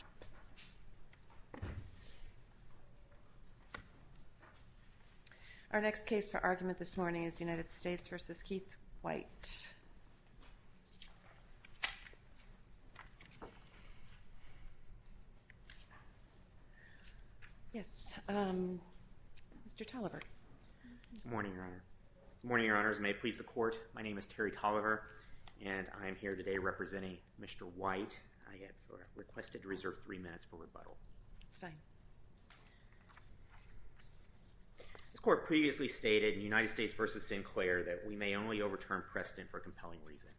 Good morning, Your Honors. May it please the Court, my name is Terry Tolliver and I'm here today representing Mr. White. I have requested to reserve three minutes for rebuttal. This Court previously stated in United States v. Sinclair that we may only overturn Preston for a compelling reason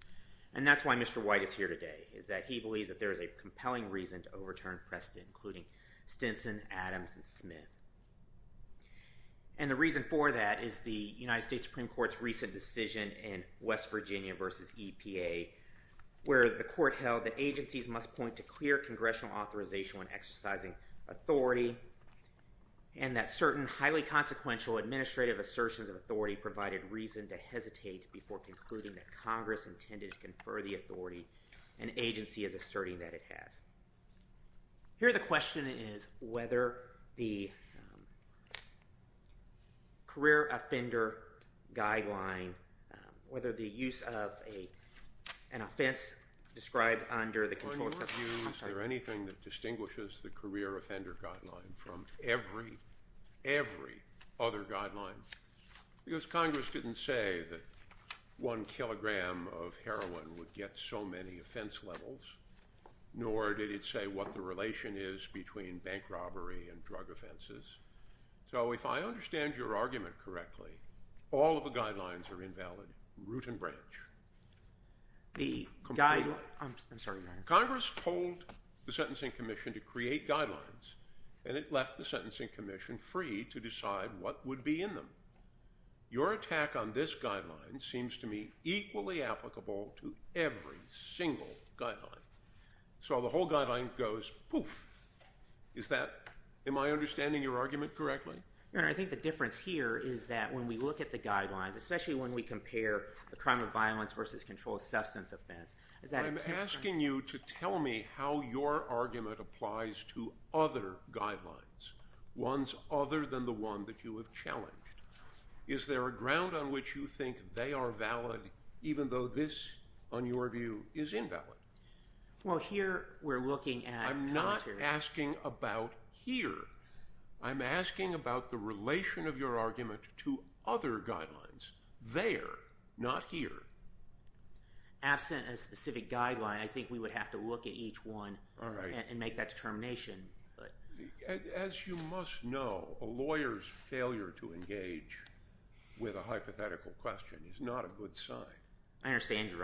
and that's why Mr. White is here today is that he believes that there is a compelling reason to overturn Preston including Stinson, Adams, and Smith and the reason for that is the United States Supreme Court's recent decision in West Virginia v. EPA where the Court held that agencies must point to clear congressional authorization when exercising authority and that certain highly consequential administrative assertions of authority provided reason to hesitate before concluding that Congress intended to confer the authority an agency is asserting that it whether the use of a an offense described under the controls there anything that distinguishes the career offender guideline from every every other guidelines because Congress didn't say that one kilogram of heroin would get so many offense levels nor did it say what the relation is between bank guidelines are invalid root and branch the Congress told the Sentencing Commission to create guidelines and it left the Sentencing Commission free to decide what would be in them your attack on this guideline seems to me equally applicable to every single guideline so the whole guideline goes poof is that in my understanding your argument correctly I think the difference here is that when we look at the guidelines especially when we compare the crime of violence versus control substance offense is that I'm asking you to tell me how your argument applies to other guidelines ones other than the one that you have challenged is there a ground on which you think they are valid even though this on your view is invalid well here we're looking at I'm not asking about here I'm asking about the relation of your argument to other guidelines they're not here absent a specific guideline I think we would have to look at each one all right and make that determination but as you must know a lawyer's failure to engage with a hypothetical question is not a good sign I understand your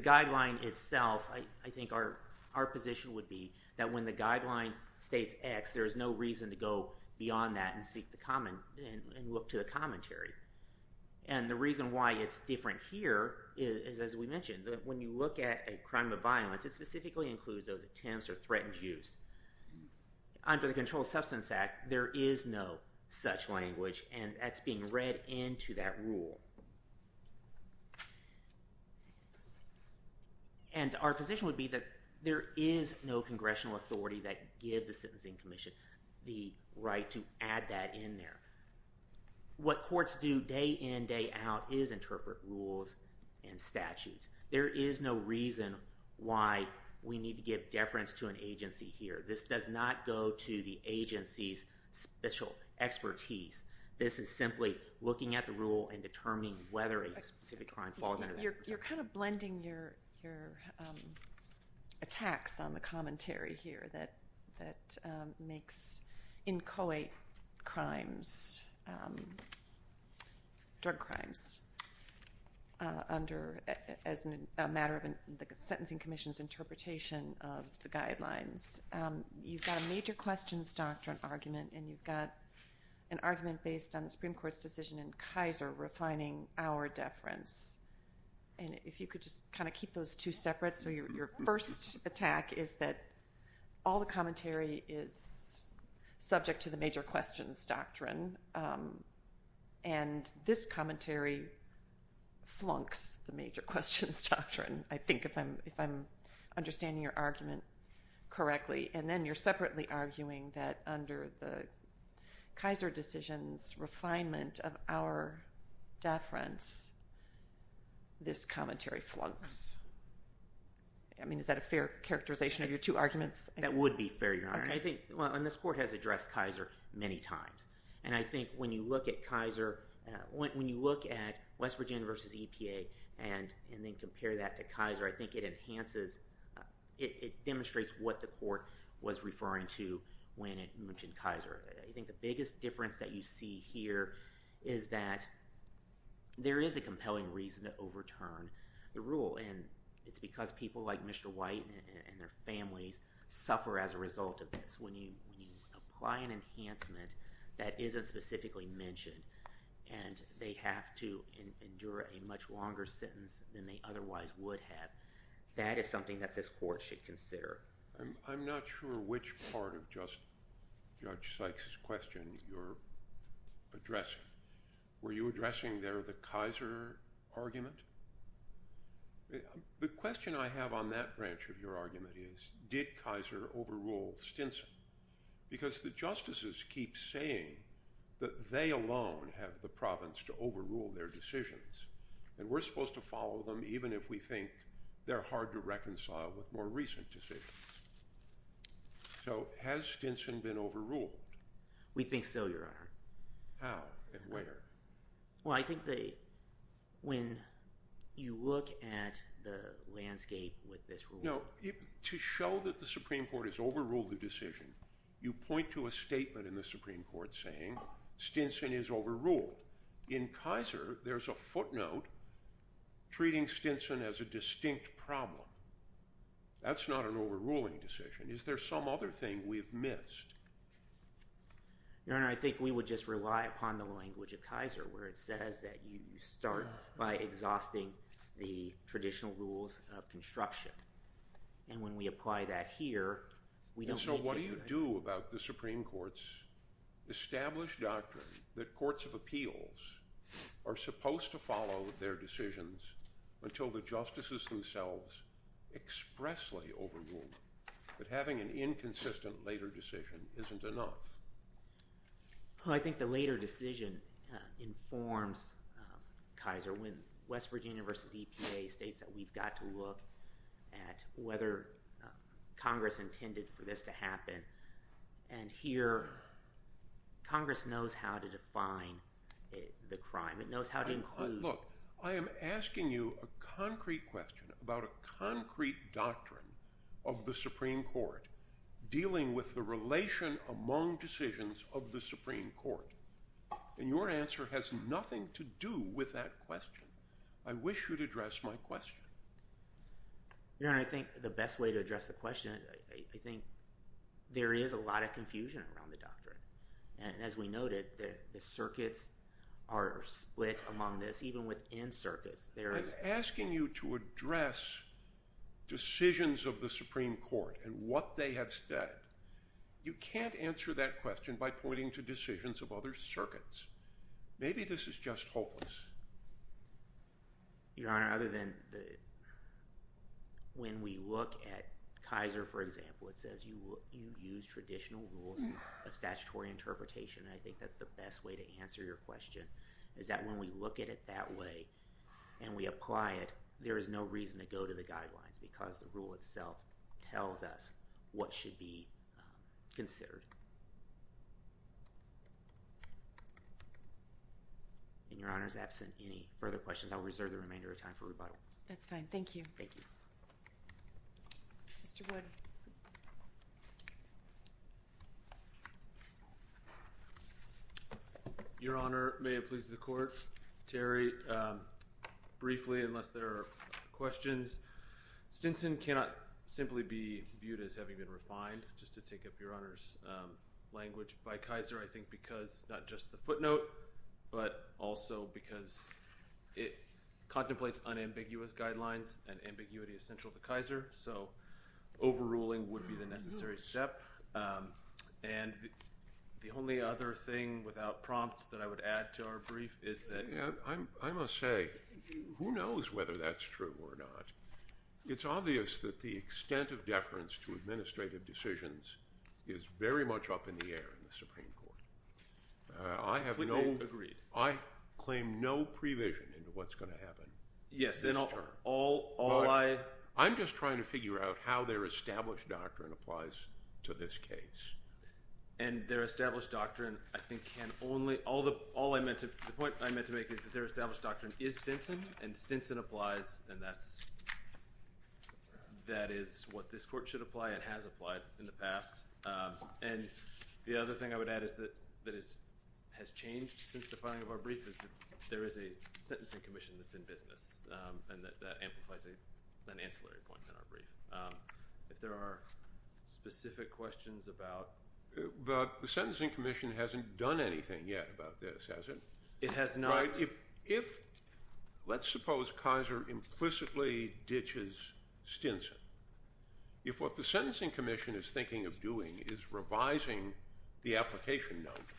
guideline itself I think our our position would be that when the guideline states X there's no reason to go beyond that and seek the common and look to the commentary and the reason why it's different here is as we mentioned that when you look at a crime of violence it specifically includes those attempts or threatened use under the Control Substance Act there is no such language and that's being read into that rule and our position would be that there is no congressional authority that gives the Sentencing Commission the right to add that in there what courts do day in day out is interpret rules and statutes there is no reason why we need to give deference to an agency here this does not go to the agency's special expertise this is simply looking at the rule and determining whether a specific crime falls under your kind of blending your your attacks on the commentary here that that makes inchoate crimes drug crimes under as a matter of the Sentencing Commission's interpretation of the guidelines you've got a major questions doctrine argument and you've got an argument based on the Supreme Court's decision in Kaiser refining our deference and if you could just kind of keep those two separate so your first attack is that all the commentary is subject to the major questions doctrine and this commentary flunks the major questions doctrine I think if I'm if I'm understanding your argument correctly and then you're separately arguing that under the Kaiser decisions refinement of our deference this commentary flunks I mean is that a fair characterization of your two arguments that would be fair your honor I think on this court has addressed Kaiser many times and I think when you look at Kaiser when you look at West Virginia versus EPA and and then compare that to Kaiser I think it enhances it demonstrates what the court was referring to when it mentioned Kaiser I think the biggest difference that you see here is that there is a compelling reason to overturn the rule and it's because people like mr. white and their families suffer as a result of this when you apply an enhancement that isn't specifically mentioned and they have to endure a much longer sentence than they otherwise would have that is something that this court should consider I'm not sure which part of just judge Sykes question you're addressing were you addressing there the Kaiser argument the question I have on that branch of your argument is did Kaiser overrule Stinson because the justices keep saying that they alone have the province to overrule their decisions and we're supposed to follow them even if we think they're hard to reconcile with more recent decisions so has Stinson been overruled we think so your honor how and where well I think they when you look at the landscape with this no to show that the Supreme Court has overruled the decision you point to a statement in the Supreme Court saying Stinson is overruled in Kaiser there's a footnote treating Stinson as a distinct problem that's not an overruling decision is there some other thing we've missed your honor I think we would just rely upon the language of Kaiser where it says that you start by exhausting the traditional rules of construction and when we apply that here we don't know what do you do about the doctrine that courts of appeals are supposed to follow their decisions until the justices themselves expressly overruled but having an inconsistent later decision isn't enough well I think the later decision informs Kaiser when West Virginia versus EPA states that we've got to look at whether Congress intended for this to happen and here Congress knows how to define the crime it knows how to look I am asking you a concrete question about a concrete doctrine of the Supreme Court dealing with the relation among decisions of the Supreme Court and your answer has nothing to do with that question I wish you'd address my question you know I think the best way to address the question I think there is a lot of confusion around the doctrine and as we noted that the circuits are split among this even within circus there is asking you to address decisions of the Supreme Court and what they have said you can't answer that question by pointing to decisions of other circuits maybe this is just hopeless your honor other than when we look at Kaiser for example it says you will you use traditional rules of statutory interpretation I think that's the best way to answer your question is that when we look at it that way and we apply it there is no reason to go to the guidelines because the rule itself tells us what should be considered and your honor's absent any further questions I'll reserve the remainder of time for rebuttal that's fine thank you thank you your honor may it please the court Terry briefly unless there are questions Stinson cannot simply be viewed as having been refined just to take up your honors language by Kaiser I think because not just the footnote but also because it contemplates unambiguous guidelines and ambiguity essential to Kaiser so overruling would be the necessary step and the only other thing without prompts that I would add to our brief is that I must say who knows whether that's true or not it's obvious that the extent of deference to administrative decisions is very much up in the air in the Supreme Court I have no agreed I claim no prevision into what's going to happen yes and all all I I'm just trying to figure out how their established doctrine applies to this case and their established doctrine I think can only all the all I meant to the point I meant to make is that their established doctrine is Stinson and Stinson applies and that's that is what this court should apply it has applied in the past and the other thing I would add is that that is has changed since the filing of our brief is that there is a sentencing commission that's in business and that amplifies a an ancillary point in our brief if there are specific questions about the sentencing commission hasn't done anything yet about this has it it has not if if let's suppose Kaiser implicitly ditches Stinson if what the sentencing commission is thinking of doing is revising the application note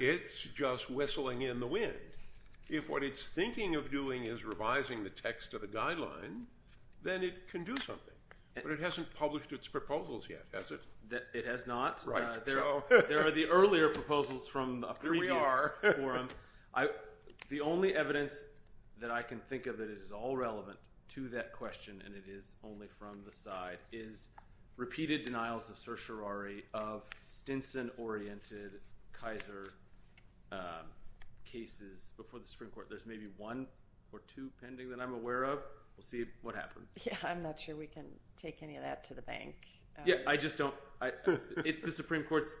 it's just whistling in the wind if what it's thinking of doing is revising the text of a guideline then it can do something but it hasn't published its proposals yet has it that it has not there are the earlier proposals from the only evidence that I can think of that is all relevant to that question and it is only from the side is repeated denials of certiorari of Stinson oriented Kaiser cases before the Supreme Court there's maybe one or two pending that I'm aware of we'll see what happens yeah I'm not sure we can take any of that to the bank yeah I just don't it's the Supreme Court's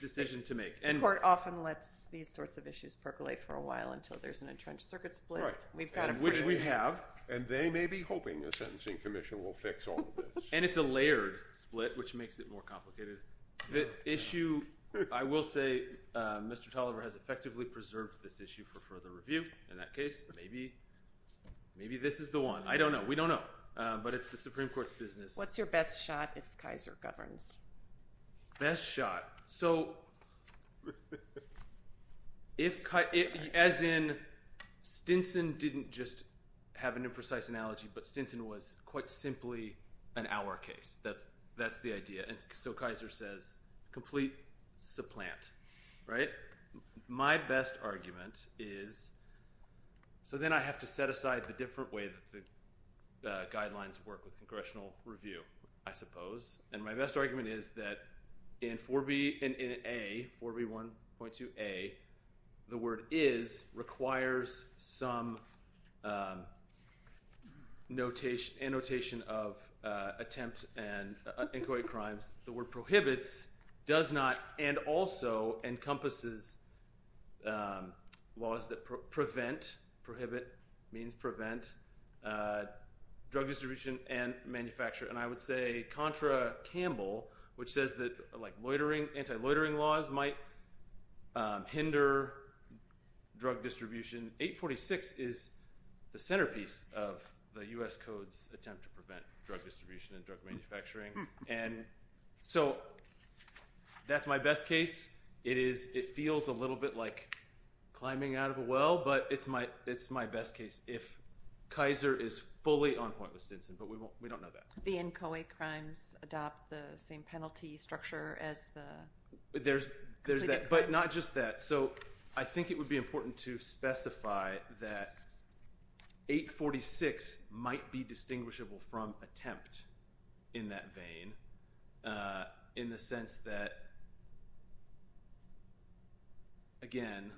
decision to make and court often lets these sorts of issues percolate for a while until there's an entrenched circuit split we've got a which we have and they may be hoping the sentencing commission will fix all and it's a layered split which makes it more complicated the issue I will say mr. Tolliver has effectively preserved this issue for further review in that case maybe maybe this is the one I don't know we don't know but it's the best shot so it's cut it as in Stinson didn't just have an imprecise analogy but Stinson was quite simply an hour case that's that's the idea and so Kaiser says complete supplant right my best argument is so then I have to set aside the different way that the guidelines work with congressional review I suppose and my best argument is that in 4b in a 4b 1.2 a the word is requires some notation annotation of attempt and inchoate crimes the word prohibits does not and also encompasses laws that prevent prohibit means prevent drug distribution and manufacture and I would say Contra Campbell which says that like loitering anti-loitering laws might hinder drug distribution 846 is the centerpiece of the US codes attempt to prevent drug distribution and drug manufacturing and so that's my best case it is it feels a little bit like climbing out of a well but it's my it's my best case if Kaiser is fully on point with Stinson but we won't we don't know that the inchoate crimes adopt the same penalty structure as the there's there's that but not just that so I think it would be important to specify that 846 might be distinguishable from attempt in that vein in the sense that again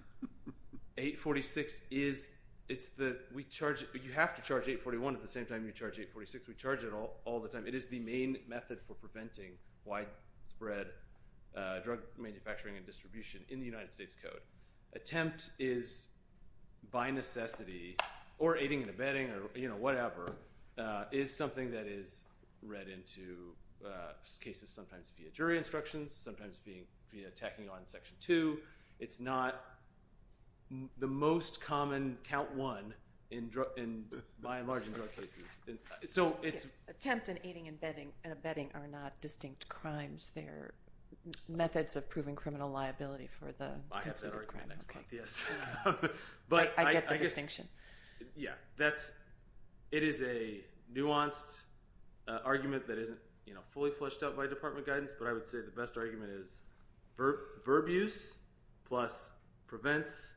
846 is it's that we charge you have to charge 841 at the same time you charge 846 we charge it all all the time it is the main method for preventing widespread drug manufacturing and distribution in the United States code attempt is by necessity or aiding and abetting that is read into cases sometimes via jury instructions sometimes being attacking on section 2 it's not the most common count one in drug in by and large in drug cases so it's attempt in aiding and abetting and abetting are not distinct crimes they're methods of proving criminal liability for the I distinction yeah that's it is a nuanced argument that isn't you know fully flushed out by department guidance but I would say the best argument is verb verb use plus prevents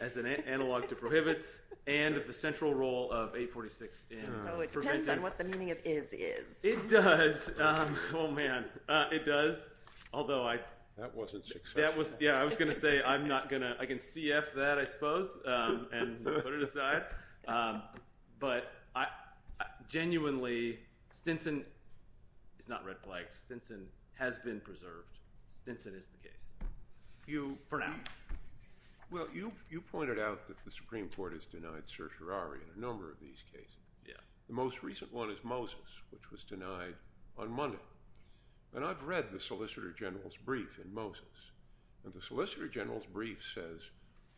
as an analog to prohibits and the central role of a 46 it does oh man it does although I that wasn't that was yeah I was gonna say I'm but I genuinely Stinson it's not red flag Stinson has been preserved Stinson is the case you for now well you you pointed out that the Supreme Court is denied certiorari in a number of these cases yeah the most recent one is Moses which was denied on Monday and I've read the Solicitor General's brief in Moses and the Solicitor General's brief says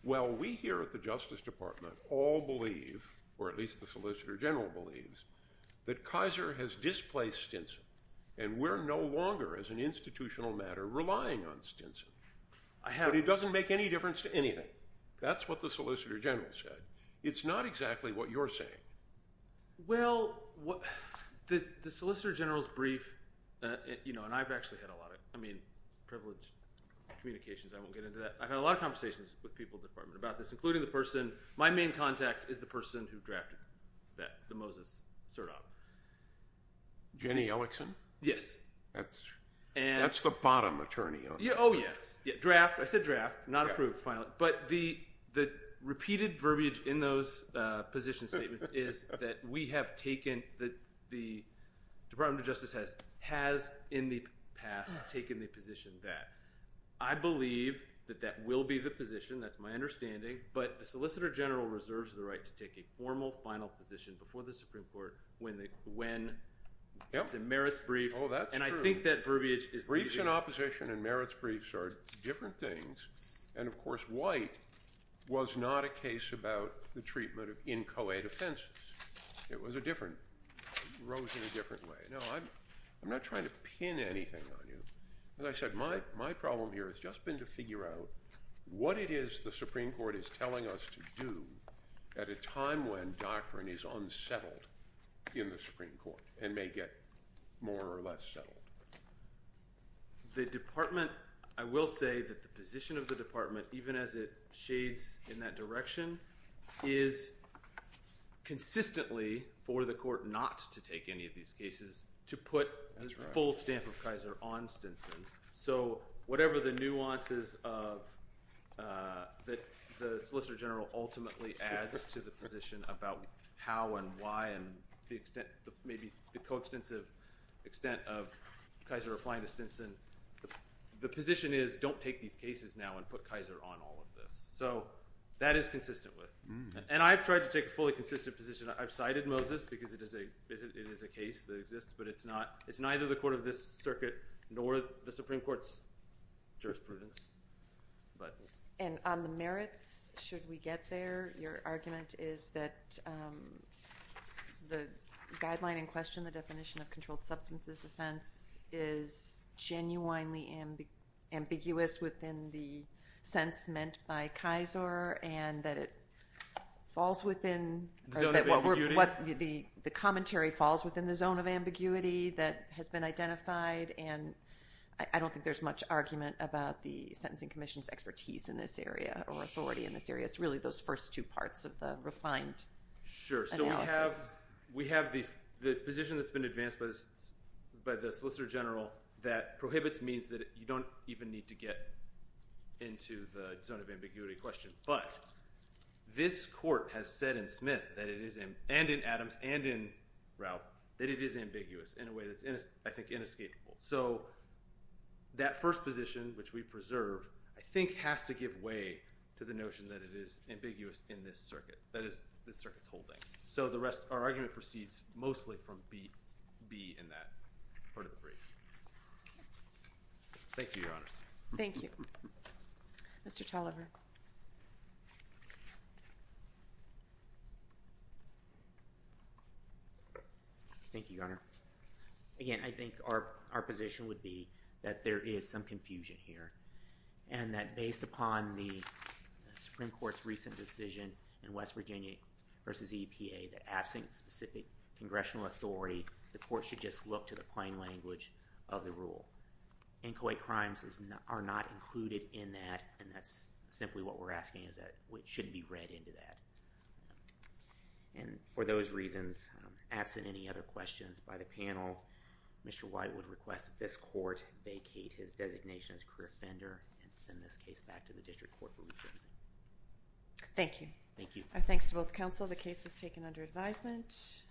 well we here at the Justice Department all believe or at least the Solicitor General believes that Kaiser has displaced Stinson and we're no longer as an institutional matter relying on Stinson I have it doesn't make any difference to anything that's what the Solicitor General said it's not exactly what you're saying well what the Solicitor General's brief you know and I've actually had a lot of I mean privileged communications I won't get into that I've had a lot of conversations with people department about this including the person my main contact is the person who drafted that the Moses sir top Jenny Ellickson yes that's and that's the bottom attorney oh yeah oh yes yeah draft I said draft not approved finally but the the repeated verbiage in those position statements is that we have taken that the Department of Justice has has in the past taken the position that I believe that that will be the position that's my understanding but the Solicitor General reserves the right to take a formal final position before the Supreme Court when they when it's a merits brief oh that's and I think that verbiage is recent opposition and merits briefs are different things and of course white was not a case about the treatment of inchoate offenses it was a different rose in a different way no I'm not trying to pin anything on you as I said my my problem here has just been to figure out what it is the Supreme Court is telling us to do at a time when doctrine is unsettled in the Supreme Court and may get more or less settled the department I will say that the position of the department even as it shades in that direction is consistently for the court not to take any of these cases to put a full stamp of Kaiser on Stinson so whatever the nuances of that the Solicitor General ultimately adds to the position about how and why and the extent maybe the coextensive extent of Kaiser applying to Stinson the position is don't take these cases now and put Kaiser on all of this so that is consistent with and I've tried to take a fully consistent position I've cited Moses because it is a visit it is a case that exists but it's not it's neither the court of this circuit nor the Supreme Court's jurisprudence but and on the merits should we get there your argument is that the guideline in question the definition of controlled substances offense is genuinely ambiguous within the sense meant by Kaiser and that it falls within what the the commentary falls within the zone of ambiguity that has been identified and I don't think there's much argument about the Sentencing Commission's expertise in this area or authority in this area it's really those first two parts of the refined sure so we have we have the position that's been advanced by the general that prohibits means that you don't even need to get into the zone of ambiguity question but this court has said in Smith that it is in and in Adams and in route that it is ambiguous in a way that's in I think inescapable so that first position which we preserve I think has to give way to the notion that it is ambiguous in this circuit that is the circuits holding so the rest our proceeds mostly from be be in that part of the brief thank you your honor thank you mr. Tolliver thank you your honor again I think our our position would be that there is some confusion here and that based upon the Supreme Court's recent decision in West specific congressional authority the court should just look to the plain language of the rule inchoate crimes is not are not included in that and that's simply what we're asking is that which should be read into that and for those reasons absent any other questions by the panel mr. White would request this court vacate his designation as career offender and send this case back to the district court for me thank you thank you our thanks to both counsel the case is taken under advisement